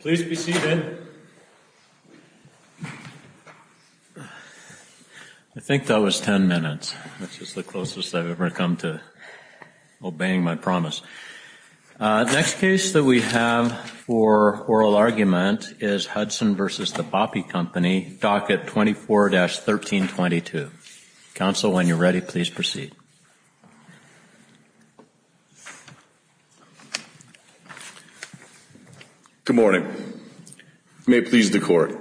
Please be seated. I think that was 10 minutes. That's just the closest I've ever come to obeying my promise. Next case that we have for oral argument is Hudson v. The Boppy Company, docket 24-1322. Counsel, when you're ready, please proceed. Good morning. May it please the court.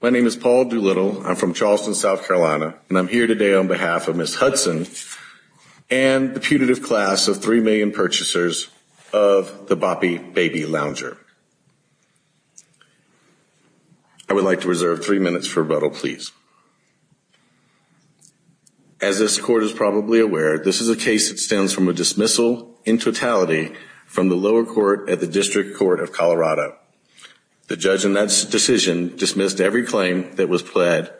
My name is Paul Doolittle. I'm from Charleston, South Carolina, and I'm here today on behalf of Ms. Hudson and the putative class of 3 million purchasers of the Boppy Baby Lounger. I would like to reserve three minutes for rebuttal, please. As this court is probably aware, this is a case that stems from a dismissal in totality from the lower court at the District Court of Colorado. The judge in that decision dismissed every claim that was pled,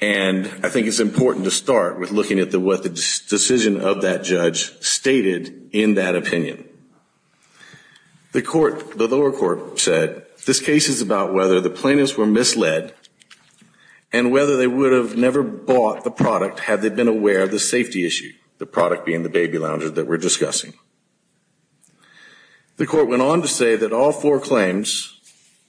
and I think it's important to start with looking at what the decision of that judge stated in that opinion. The lower court said this case is about whether the plaintiffs were misled and whether they would have never bought the product had they been aware of the safety issue, the product being the baby lounger that we're discussing. The court went on to say that all four claims,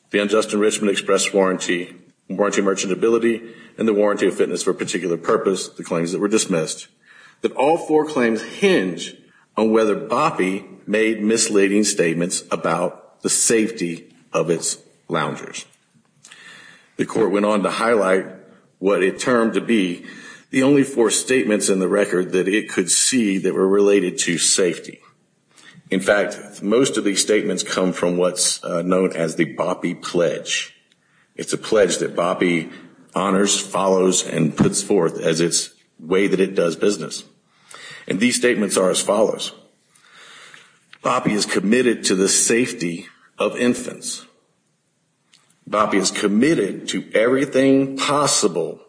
the unjust enrichment express warranty, warranty merchantability, and the warranty of fitness for a particular purpose, the claims that were dismissed, that all four claims hinge on whether Boppy made misleading statements about the safety of its loungers. The court went on to highlight what it termed to be the only four statements in the record that it could see that were related to safety. In fact, most of these statements come from what's known as the Boppy Pledge. It's a pledge that Boppy honors, follows, and puts forth as its way that it does business. And these statements are as follows. Boppy is committed to the safety of infants. Boppy is committed to everything possible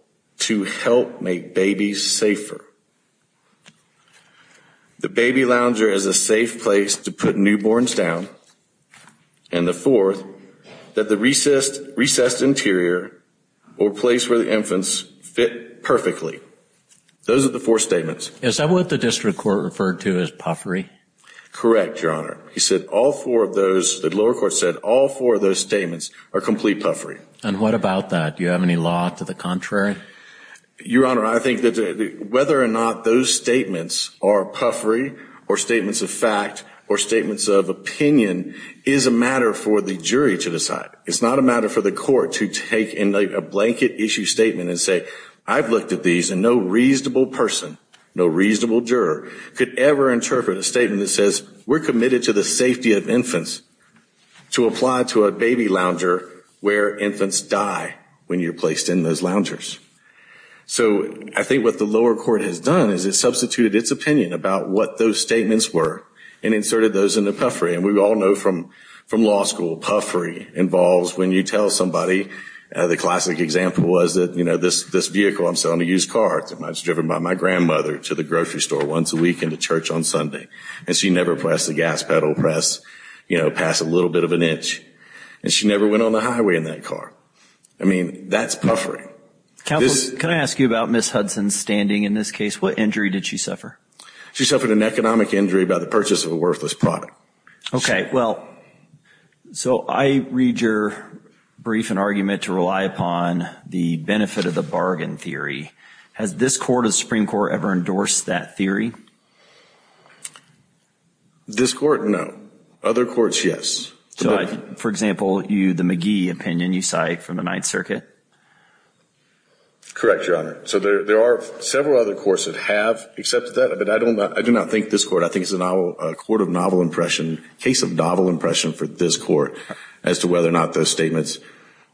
to help make babies safer. The baby lounger is a safe place to put newborns down. And the fourth, that the recessed interior or place where the infants fit perfectly. Those are the four statements. Is that what the district court referred to as puffery? Correct, Your Honor. He said all four of those, the lower court said all four of those statements are complete puffery. And what about that? Do you have any law to the contrary? Your Honor, I think that whether or not those statements are puffery or statements of fact or statements of opinion is a matter for the jury to decide. It's not a matter for the court to take in a blanket issue statement and say, I've looked at these and no reasonable person, no reasonable juror could ever interpret a statement that says we're committed to the safety of infants to apply to a baby lounger where infants die when you're placed in those loungers. So I think what the lower court has done is it substituted its opinion about what those statements were and inserted those into puffery. And we all know from law school, puffery involves when you tell somebody, the classic example was that, you know, this vehicle, I'm selling a used car. I was driven by my grandmother to the grocery store once a week into church on Sunday. And she never pressed the gas pedal press, you know, pass a little bit of an inch and she never went on the highway in that car. I mean, that's puffery. Counselor, can I ask you about Ms. Hudson's standing in this case? What injury did she suffer? She suffered an economic injury by the purchase of a worthless product. Okay. Well, so I read your brief and argument to rely upon the benefit of the bargain theory. Has this court of Supreme court ever endorsed that theory? This court? No. Other courts, yes. So I, for example, you, the McGee opinion, you cite from the ninth circuit. Correct, Your Honor. So there, there are several other courts that have accepted that, but I don't, I do not think this court, I think it's a novel court of novel impression, case of novel impression for this court as to whether or not those statements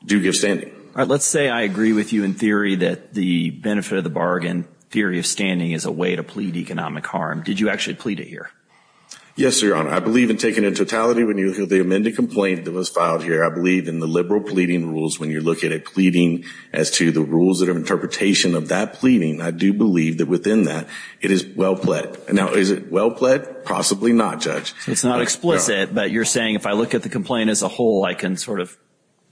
do give standing. All right. Let's say I agree with you in theory that the benefit of the bargain theory of standing is a way to plead economic harm. Did you actually plead it here? Yes, Your Honor. I believe in taking a totality. When you look at the amended complaint that was filed here, I believe in the liberal pleading rules, when you're looking at pleading as to the rules that have interpretation of that pleading, I do believe that within that it is well pled. And now is it well pled? Possibly not judge. It's not explicit, but you're saying if I look at the complaint as a whole, I can sort of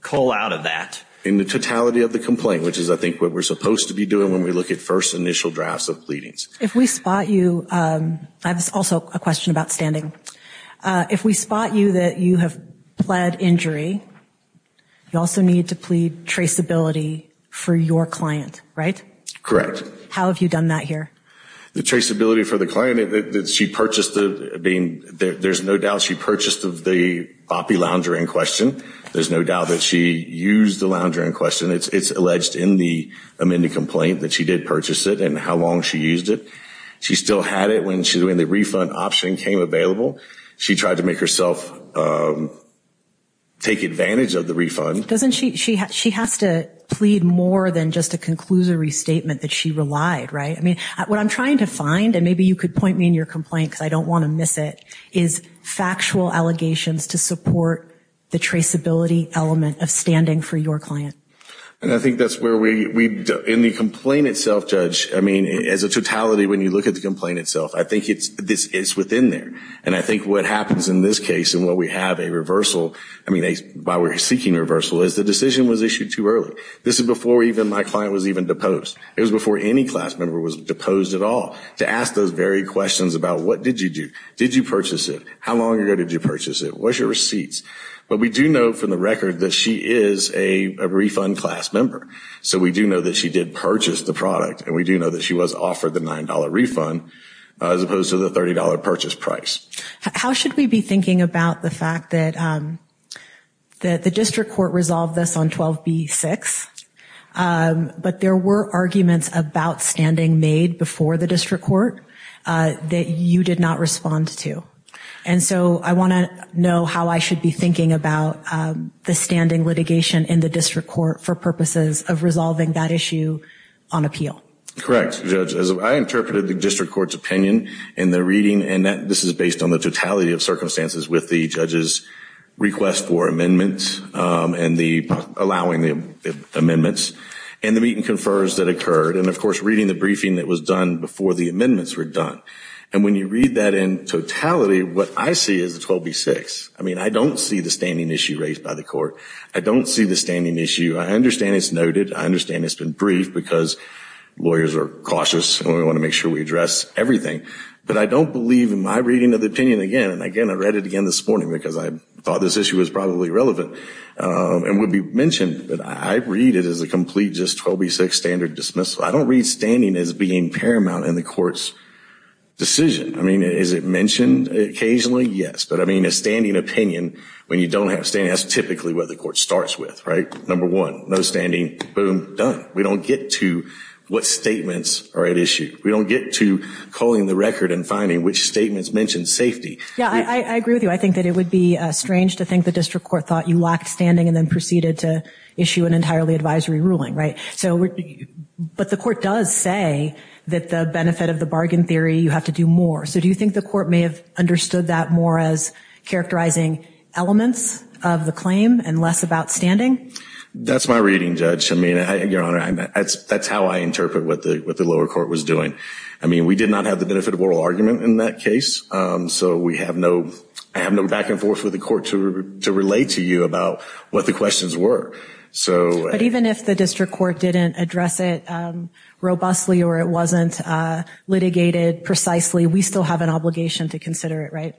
call out of that. In the totality of the complaint, which is I think what we're supposed to be doing when we look at first initial drafts of pleadings. If we spot you, I have also a question about standing. If we spot you that you have pled injury, you also need to plead traceability for your client, right? Correct. How have you done that here? The traceability for the client that she purchased the being there, there's no doubt she purchased of the boppy lounger in question. There's no doubt that she used the lounger in question. It's, it's alleged in the amended complaint that she did purchase it and how long she used it. She still had it when she's when the refund option came available. She tried to make herself take advantage of the refund. Doesn't she, she has to plead more than just to conclude a restatement that she relied, right? I mean, what I'm trying to find and maybe you could point me in your complaint cause I don't want to miss it, is factual allegations to support the traceability element of standing for your client. And I think that's where we, we in the complaint itself, judge, I mean, as a totality, when you look at the complaint itself, I think it's, this is within there. And I think what happens in this case and what we have a reversal, I mean, why we're seeking reversal is the decision was issued too early. This is before even my client was even deposed. It was before any class member was deposed at all to ask those very questions about what did you do? Did you purchase it? How long ago did you purchase it? What's your receipts? But we do know from the record that she is a refund class member. So we do know that she did purchase the product and we do know that she was offered the $9 refund as opposed to the $30 purchase price. How should we be thinking about the fact that, um, that the district court resolved this on 12 B six. Um, but there were arguments about standing made before the district court, uh, that you did not respond to. And so I want to know how I should be thinking about, um, the standing litigation in the district court for purposes of resolving that issue on appeal. Correct. Judge, as I interpreted the district court's opinion and the reading, and that this is based on the totality of circumstances with the judge's request for amendments, um, and the allowing the amendments and the meeting confers that occurred. And of course, reading the briefing that was done before the amendments were done. And when you read that in totality, what I see is the 12 B six. I mean, I don't see the standing issue raised by the court. I don't see the standing issue. I understand it's noted. I understand it's been briefed because lawyers are cautious and we want to make sure we address everything, but I don't believe in my reading of the opinion again. And again, I read it again this morning because I thought this issue was probably relevant, um, and would be mentioned, but I read it as a complete, just 12 B six standard dismissal. I don't read standing as being paramount in the court's decision. I mean, is it mentioned occasionally? Yes. But I mean, a standing opinion when you don't have standing, that's typically what the court starts with, right? Number one, no standing, boom, done. We don't get to what statements are at issue. We don't get to calling the record and finding which statements mentioned safety. Yeah, I, I agree with you. I think that it would be strange to think the district court thought you lacked standing and then proceeded to issue an entirely advisory ruling. Right? So, but the court does say that the benefit of the bargain theory, you have to do more. So do you think the court may have understood that more as characterizing elements of the claim and less about standing? That's my reading judge. I mean, I, your honor, I, that's, that's how I interpret what the, what the lower court was doing. I mean, we did not have the benefit of oral argument in that case. Um, so we have no, I have no back and forth with the court to, to relate to you about what the questions were. So, but even if the district court didn't address it, um, robustly or it wasn't, uh, litigated precisely, we still have an obligation to consider it, right?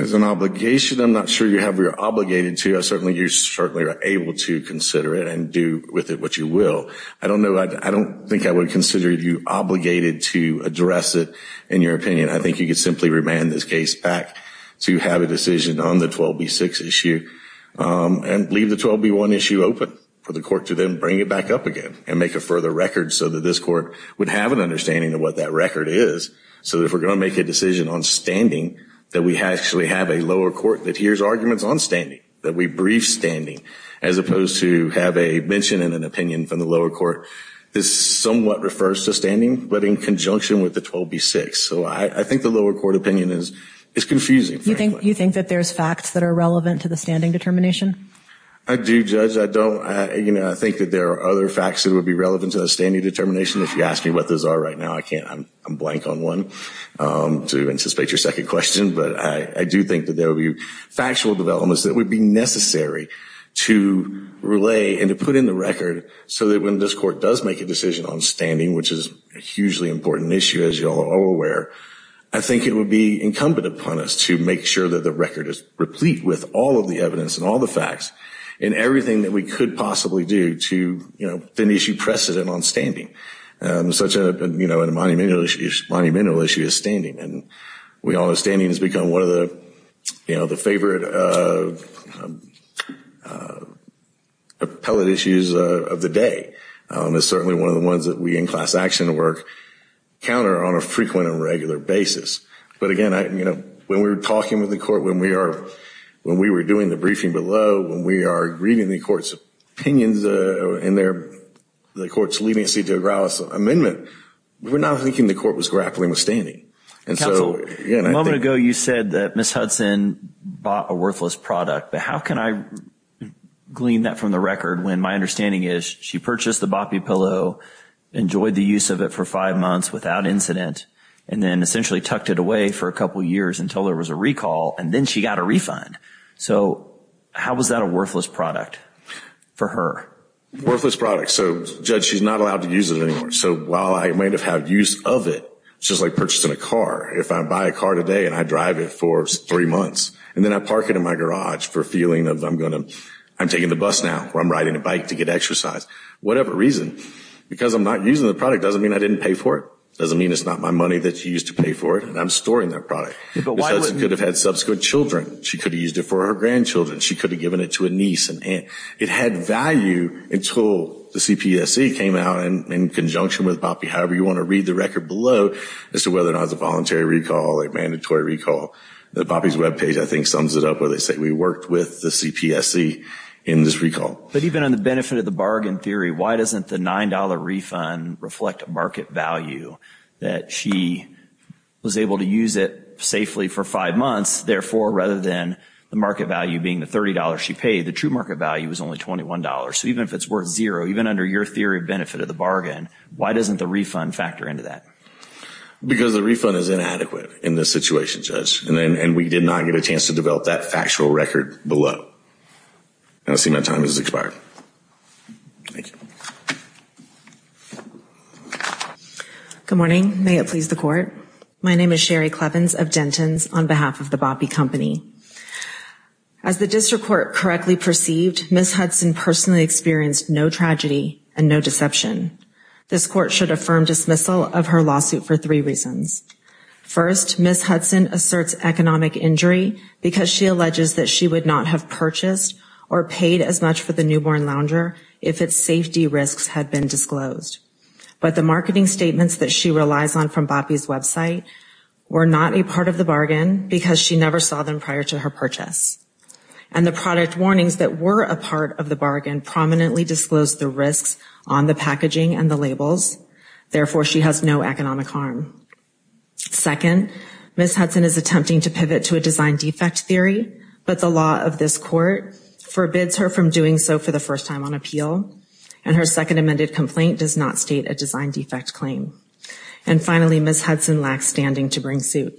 As an obligation, I'm not sure you have, you're obligated to, I certainly, you certainly are able to consider it and do with it what you will. I don't know. I don't think I would consider you obligated to address it in your opinion. I think you could simply remand this case back to have a decision on the 12B6 issue, um, and leave the 12B1 issue open for the court to then bring it back up again and make a further record so that this court would have an understanding of what that record is. So if we're going to make a decision on standing, that we actually have a lower court that hears arguments on standing, that we brief standing as opposed to have a mention in an opinion from the lower court. This somewhat refers to standing, but in conjunction with the 12B6. So I think the lower court opinion is, it's confusing. You think, you think that there's facts that are relevant to the standing determination? I do judge. I don't, you know, I think that there are other facts that would be relevant to the standing determination. If you ask me what those are right now, I can't, I'm blank on one, um, to anticipate your second question. But I do think that there will be factual developments that would be necessary to relay and to put in the record so that when this court does make a decision on standing, which is a hugely important issue, as you all are aware, I think it would be incumbent upon us to make sure that the record is replete with all of the evidence and all the facts and everything that we could possibly do to, you know, then issue precedent on standing. such a, you know, in a monumental issue is standing and we all know standing has become one of the, you know, the favorite, uh, appellate issues, uh, of the day. Um, it's certainly one of the ones that we in class action work counter on a frequent and regular basis. But again, I, you know, when we were talking with the court, when we are, when we were doing the briefing below, when we are reading the court's opinions, uh, in there, the court's leading seat to a grouse amendment, we're not thinking the court was grappling with standing. And so a moment ago, you said that Ms. Hudson bought a worthless product, but how can I glean that from the record? When my understanding is she purchased the boppy pillow, enjoyed the use of it for five months without incident. And then essentially tucked it away for a couple of years until there was a recall. And then she got a refund. So how was that a worthless product for her worthless product? So judge, she's not allowed to use it anymore. So while I might've had use of it, it's just like purchasing a car. If I buy a car today and I drive it for three months and then I park it in my garage for feeling of, I'm going to, I'm taking the bus now where I'm riding a bike to get exercise, whatever reason, because I'm not using the product doesn't mean I didn't pay for it. It doesn't mean it's not my money that you used to pay for it. And I'm storing that product. Could have had subsequent children. She could have used it for her grandchildren. She could have given it to a niece and aunt. It had value until the CPSC came out and in conjunction with Boppy. However, you want to read the record below as to whether or not it's a voluntary recall, a mandatory recall. The Boppy's webpage, I think sums it up where they say we worked with the CPSC in this recall. But even on the benefit of the bargain theory, why doesn't the $9 refund reflect market value that she was able to use it safely for five months? Therefore, rather than the market value being the $30 she paid, the true market value was only $21. So even if it's worth zero, even under your theory of benefit of the bargain, why doesn't the refund factor into that? Because the refund is inadequate in this situation, judge. And then, and we did not get a chance to develop that factual record below. I see my time has expired. Thank you. Good morning. May it please the court. My name is Sherry Clevins of Denton's on behalf of the Boppy company. As the district court correctly perceived, Ms. Hudson personally experienced no tragedy and no deception. This court should affirm dismissal of her lawsuit for three reasons. First, Ms. Hudson asserts economic injury because she alleges that she would not have purchased or paid as much for the newborn lounger. If it's safety risks had been disclosed, but the marketing statements that she relies on from Boppy's website were not a part of the bargain because she never saw them prior to her purchase. And the product warnings that were a part of the bargain prominently disclosed the risks on the packaging and the labels. Therefore, she has no economic harm. Second, Ms. Hudson is attempting to pivot to a design defect theory, but the law of this court forbids her from doing so for the first time on appeal. And her second amended complaint does not state a design defect claim. And finally, Ms. Hudson lacks standing to bring suit.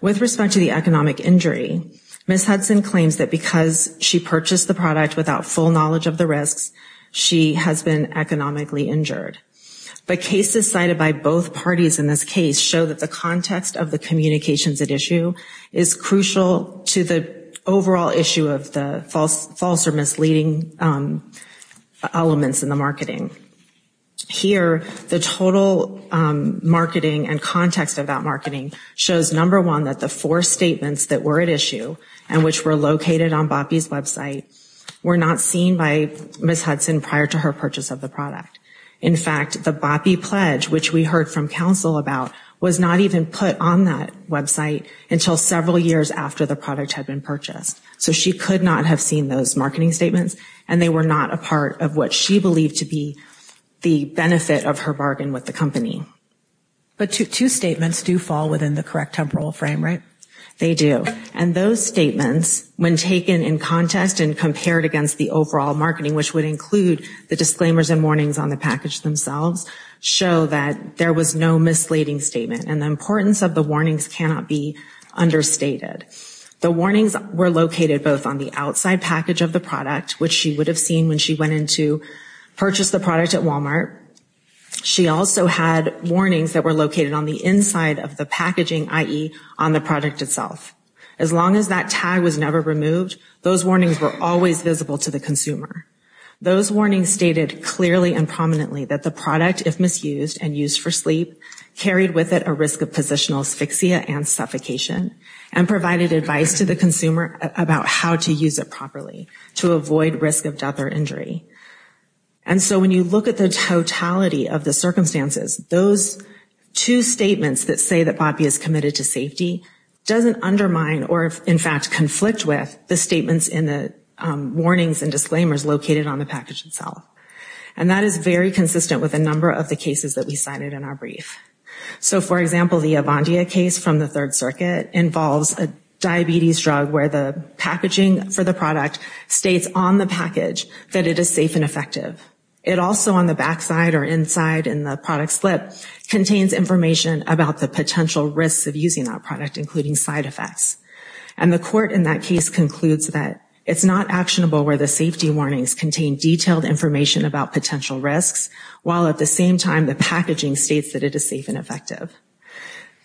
With respect to the economic injury, Ms. Hudson claims that because she purchased the product without full knowledge of the risks, she has been economically injured. But cases cited by both parties in this case show that the context of the marketing is crucial to the overall issue of the false false or misleading elements in the marketing. the total marketing and context of that marketing shows number one, that the four statements that were at issue and which were located on Boppy's website were not seen by Ms. Hudson prior to her purchase of the product. In fact, the Boppy pledge, which we heard from counsel about was not even put on that website until several years after the product had been purchased. So she could not have seen those marketing statements and they were not a part of what she believed to be the benefit of her bargain with the company. But two statements do fall within the correct temporal frame, right? They do. And those statements when taken in context and compared against the overall marketing, which would include the disclaimers and warnings on the package themselves show that there was no misleading statement. And the importance of the warnings cannot be understated. The warnings were located both on the outside package of the product, which she would have seen when she went into purchase the product at Walmart. She also had warnings that were located on the inside of the packaging, i.e. on the product itself. As long as that tag was never removed, those warnings were always visible to the consumer. Those warnings stated clearly and prominently that the product, if misused and used for sleep, carried with it a risk of positional asphyxia and suffocation and provided advice to the consumer about how to use it properly to avoid risk of death or And so when you look at the totality of the circumstances, those two statements that say that Bobbie is committed to safety doesn't undermine, or if in fact conflict with the statements in the warnings and disclaimers located on the package itself. And that is very consistent with a number of the cases that we cited in our brief. So for example, the Avondia case from the third circuit involves a diabetes drug where the packaging for the product states on the package that it is safe and effective. It also on the backside or inside in the product slip contains information about the potential risks of using that product, including side effects. And the court in that case concludes that it's not actionable where the safety warnings contain detailed information about potential risks while at the same time, the packaging states that it is safe and effective.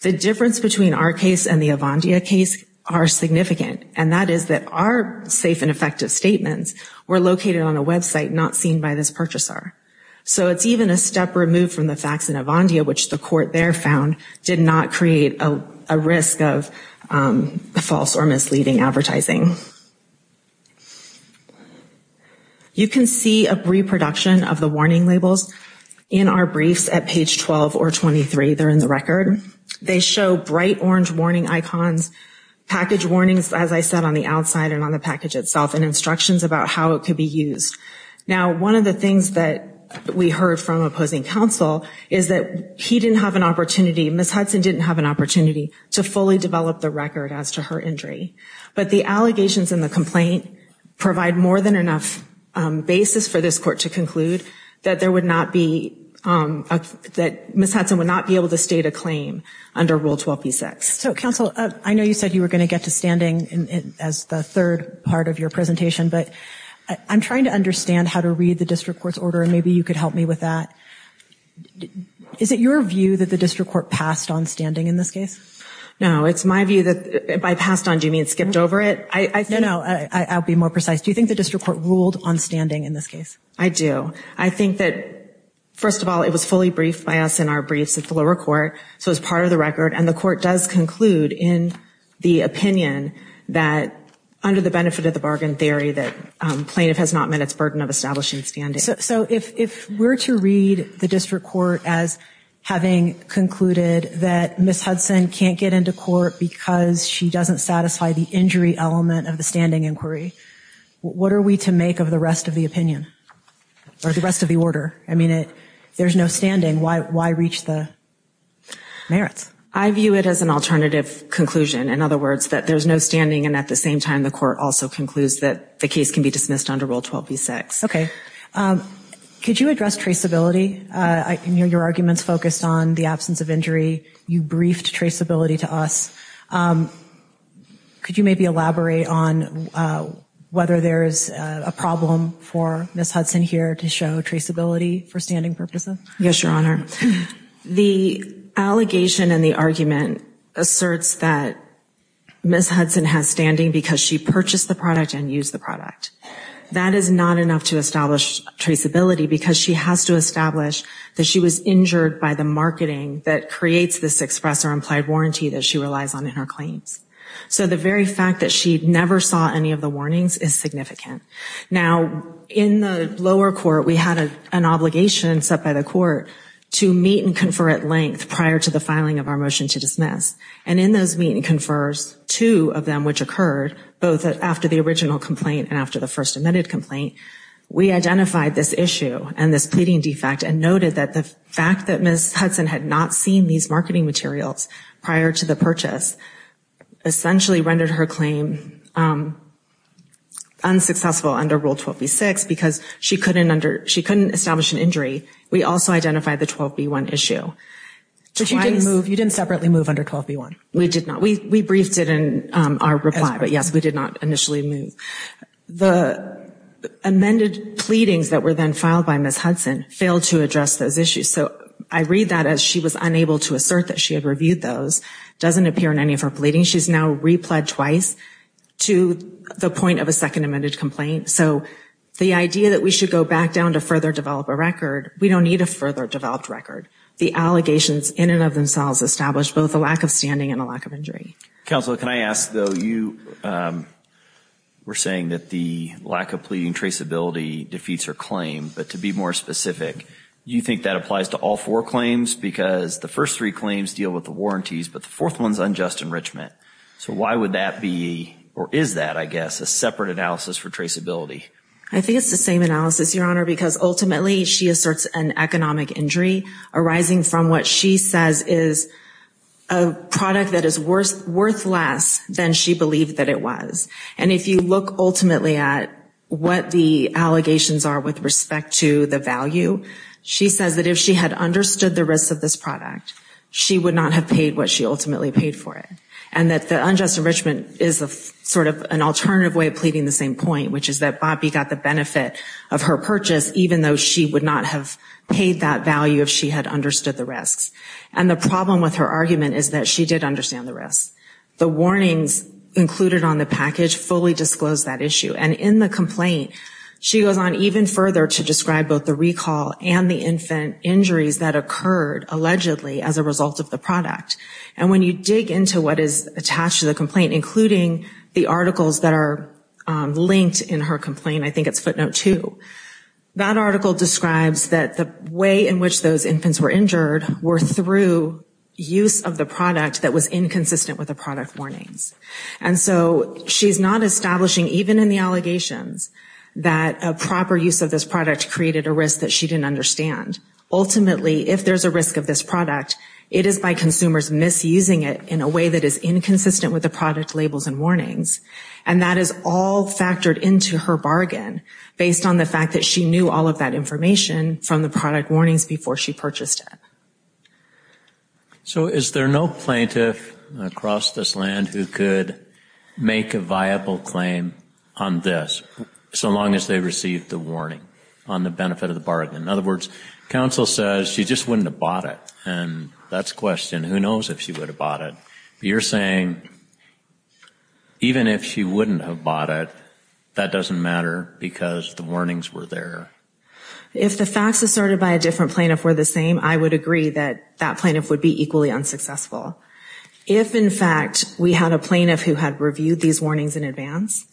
The difference between our case and the Avondia case are significant. And that is that our safe and effective statements were located on a website, not seen by this purchaser. So it's even a step removed from the facts in Avondia, which the court there found did not create a risk of false or misleading advertising. You can see a reproduction of the warning labels in our briefs at page 12 or 23. They're in the record. They show bright orange warning icons, package warnings, as I said, on the outside and on the package itself and instructions about how it could be used. Now, one of the things that we heard from opposing counsel is that he didn't have an opportunity. Ms. Hudson didn't have an opportunity to fully develop the record as to her injury, but the allegations in the complaint provide more than enough basis for this court to conclude that there would not be that Ms. Hudson would not be able to state a claim under Rule 12b-6. So counsel, I know you said you were going to get to standing as the third part of your presentation, but I'm trying to understand how to read the district court's order and maybe you could help me with that. Is it your view that the district court passed on standing in this case? No, it's my view that by passed on, do you mean skipped over it? I know. I'll be more precise. Do you think the district court ruled on standing in this case? I do. I think that, first of all, it was fully briefed by us in our briefs at the lower court. So it was part of the record. And the court does conclude in the opinion that under the benefit of the bargain theory, that plaintiff has not met its burden of establishing standing. So if we're to read the district court as having concluded that Ms. Hudson can get into court because she doesn't satisfy the injury element of the standing inquiry, what are we to make of the rest of the opinion or the rest of the order? I mean, there's no standing. Why, why reach the merits? I view it as an alternative conclusion. In other words, that there's no standing. And at the same time, the court also concludes that the case can be dismissed under Rule 12b-6. Okay. Could you address traceability? I can hear your arguments focused on the absence of injury. You briefed traceability to us. Could you maybe elaborate on whether there's a problem for Ms. Hudson here to show traceability for standing purposes? Yes, Your Honor. The allegation and the argument asserts that Ms. Hudson has standing because she purchased the product and used the product. That is not enough to establish traceability because she has to establish that she was injured by the marketing that creates this express or implied warranty that she relies on in her claims. So the very fact that she never saw any of the warnings is significant. Now in the lower court, we had an obligation set by the court to meet and confer at length prior to the filing of our motion to dismiss. And in those meet and confers, two of them which occurred both after the original complaint and after the first admitted complaint, we identified this issue and this pleading defect and noted that the fact that Ms. Hudson had not seen these marketing materials prior to the purchase essentially rendered her claim unsuccessful under Rule 12B-6 because she couldn't establish an injury. We also identified the 12B-1 issue. But you didn't move, you didn't separately move under 12B-1? We did not. We briefed it in our reply, but yes, we did not initially move. The amended pleadings that were then filed by Ms. Hudson failed to address those issues. So I read that as she was unable to assert that she had reviewed those, doesn't appear in any of her pleadings. She's now repled twice to the point of a second amended complaint. So the idea that we should go back down to further develop a record, we don't need a further developed record. The allegations in and of themselves established both a lack of standing and a lack of injury. Counselor, can I ask though, you were saying that the lack of pleading traceability defeats her claim, but to be more specific, you think that applies to all four claims because the first three claims deal with the warranties, but the fourth one's unjust enrichment. So why would that be, or is that, I guess, a separate analysis for traceability? I think it's the same analysis, Your Honor, because ultimately she asserts an economic injury arising from what she says is a product that is worth less than she believed that it was. And if you look ultimately at what the allegations are with respect to the value, she says that if she had understood the risks of this product, she would not have paid what she ultimately paid for it. And that the unjust enrichment is a sort of an alternative way of pleading the same point, which is that Bobbie got the benefit of her purchase, even though she would not have paid that value if she had understood the risks. And the problem with her argument is that she did understand the risks. The warnings included on the package fully disclosed that issue. And in the complaint, she goes on even further to describe both the recall and the infant injuries that occurred allegedly as a result of the product. And when you dig into what is attached to the complaint, including the articles that are linked in her complaint, I think it's footnote two, that article describes that the way in which those infants were injured were through use of the product that was inconsistent with the product warnings. And so she's not establishing, even in the allegations that a proper use of this product created a risk that she didn't understand. Ultimately, if there's a risk of this product, it is by consumers misusing it in a way that is inconsistent with the product labels and warnings. And that is all factored into her bargain based on the fact that she knew all of that information from the product warnings before she purchased it. So is there no plaintiff across this land who could make a viable claim on this so long as they received the warning on the benefit of the bargain? In other words, counsel says she just wouldn't have bought it. And that's the question. Who knows if she would have bought it? But you're saying even if she wouldn't have bought it, that doesn't matter because the warnings were there. If the facts asserted by a different plaintiff were the same, I would agree that that plaintiff would be equally unsuccessful. If in fact we had a plaintiff who had reviewed these warnings in advance,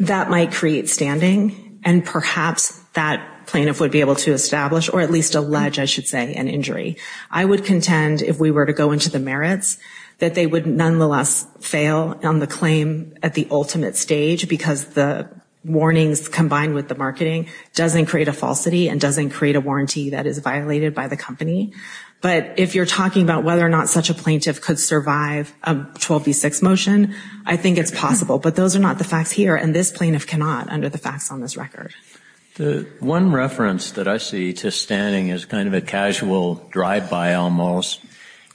that might create standing and perhaps that plaintiff would be able to establish, or at least allege, I should say, an injury. I would contend if we were to go into the merits, that they would nonetheless fail on the claim at the ultimate stage because the warnings combined with the marketing doesn't create a falsity and doesn't create a warranty that is violated by the company. But if you're talking about whether or not such a plaintiff could survive a 12v6 motion, I think it's possible, but those are not the facts here. And this plaintiff cannot under the facts on this record. The one reference that I see to standing is kind of a casual drive-by almost,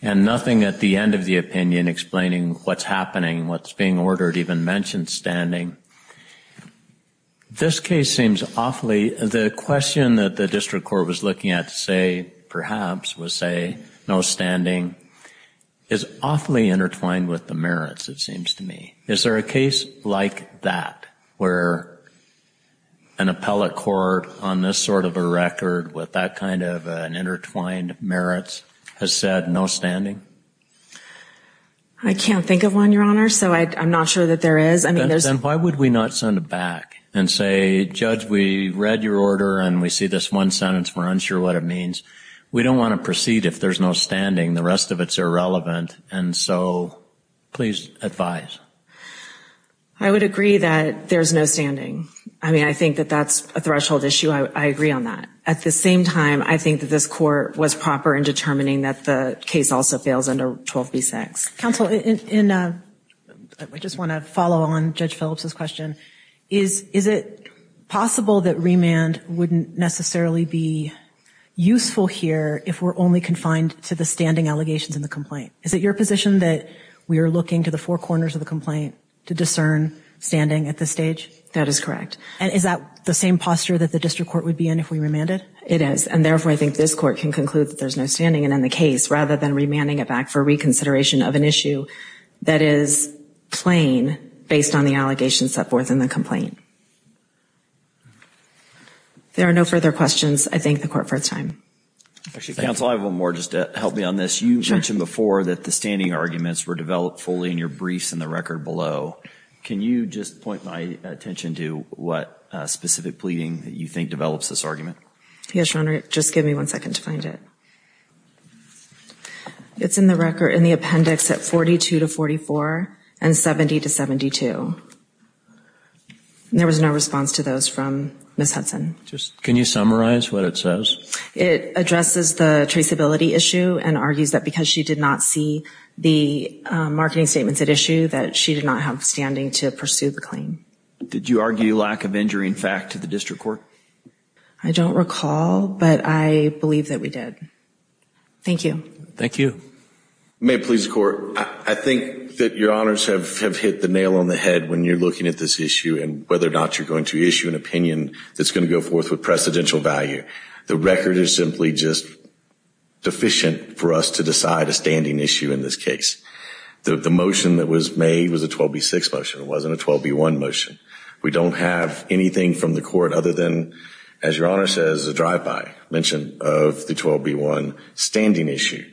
and nothing at the end of the opinion explaining what's happening, what's being ordered, even mentioned standing. This case seems awfully, the question that the district court was looking at to say, perhaps, was say no standing is awfully intertwined with the merits, it seems to me. Is there a case like that where an appellate court on this sort of a record with that kind of an intertwined merits has said no standing? I can't think of one, Your Honor. So I'm not sure that there is. Then why would we not send it back and say, Judge, we read your order and we see this one sentence, we're unsure what it means. We don't want to proceed if there's no standing. The rest of it's irrelevant. And so please advise. I would agree that there's no standing. I mean, I think that that's a threshold issue. I agree on that. At the same time, I think that this court was proper in determining that the case also fails under 12b6. Counsel, I just want to follow on Judge Phillips's question. Is it possible that remand wouldn't necessarily be useful here if we're only confined to the standing allegations in the complaint? Is it your position that we are looking to the four corners of the complaint to discern standing at this stage? That is correct. And is that the same posture that the district court would be in if we remanded? It is. And therefore, I think this court can conclude that there's no standing in the case rather than remanding it back for reconsideration of an issue that is plain based on the allegations set forth in the complaint. There are no further questions. I thank the court for its time. Counsel, I have one more just to help me on this. You mentioned before that the standing arguments were developed fully in your briefs and the record below. Can you just point my attention to what specific pleading that you think develops this argument? Yes, Your Honor. Just give me one second to find it. It's in the record in the appendix at 42 to 44 and 70 to 72. There was no response to those from Ms. Hudson. Just can you summarize what it says? It addresses the traceability issue and argues that because she did not see the marketing statements at issue, that she did not have standing to pursue the claim. Did you argue lack of injury in fact to the district court? I don't recall, but I believe that we did. Thank you. Thank you. May it please the court. I think that Your Honors have hit the nail on the head when you're looking at this issue and whether or not you're going to issue an opinion that's going to go forth with precedential value. The record is simply just deficient for us to decide a standing issue in this case. The motion that was made was a 12B6 motion. It wasn't a 12B1 motion. We don't have anything from the court other than, as Your Honor says, a drive-by mention of the 12B1 standing issue.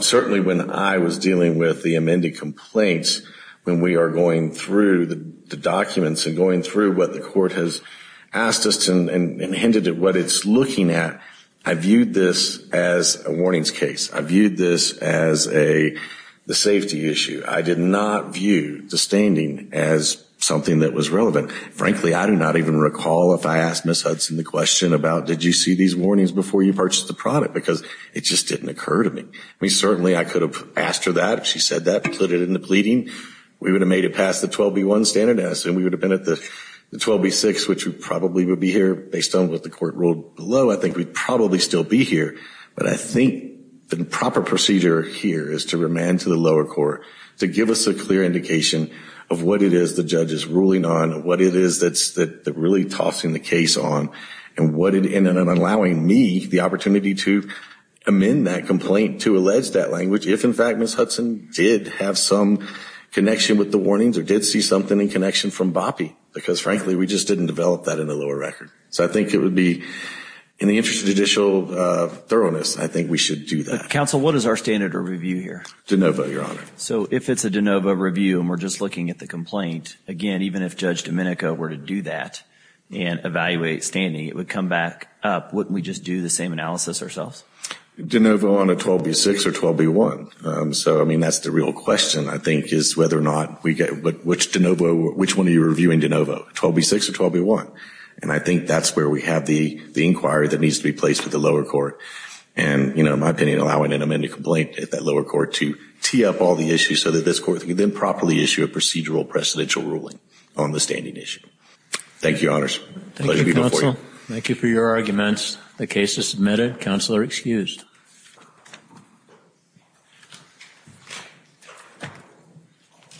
Certainly when I was dealing with the amended complaints, when we are going through the documents and going through what the court has asked us to and hinted at what it's looking at, I viewed this as a warnings case. I viewed this as a safety issue. I did not view the standing as something that was relevant. Frankly, I do not even recall if I asked Ms. Hudson the question about, did you see these warnings before you purchased the product? Because it just didn't occur to me. I mean, certainly I could have asked her that if she said that, put it in the pleading. We would have made it past the 12B1 standard and we would have been at the 12B6, which we probably would be here based on what the court ruled below. I think we'd probably still be here. But I think the proper procedure here is to remand to the lower court to give us a clear indication of what it is the judge is ruling on, what it is that's really tossing the case on, and allowing me the opportunity to amend that complaint, to allege that language, if in fact Ms. Hudson did have some connection with the warnings or did see something in connection from Boppe, because frankly, we just didn't develop that in the lower record. So I think it would be, in the interest of judicial thoroughness, I think we should do that. Counsel, what is our standard of review here? DeNovo, Your Honor. So if it's a DeNovo review and we're just looking at the complaint, again, even if Judge Domenico were to do that and evaluate standing, it would come back up. Wouldn't we just do the same analysis ourselves? DeNovo on a 12B6 or 12B1. So, I mean, that's the real question, I think, is whether or not we get, which DeNovo, which one are you reviewing DeNovo, 12B6 or 12B1? And I think that's where we have the inquiry that needs to be placed with the lower court. And, you know, in my opinion, allowing an amended complaint at that lower court to tee up all the issues so that this court can then properly issue a procedural precedential ruling on the standing issue. Thank you, Your Honors. Thank you, Counsel. Thank you for your arguments. The case is submitted. Counsel are excused.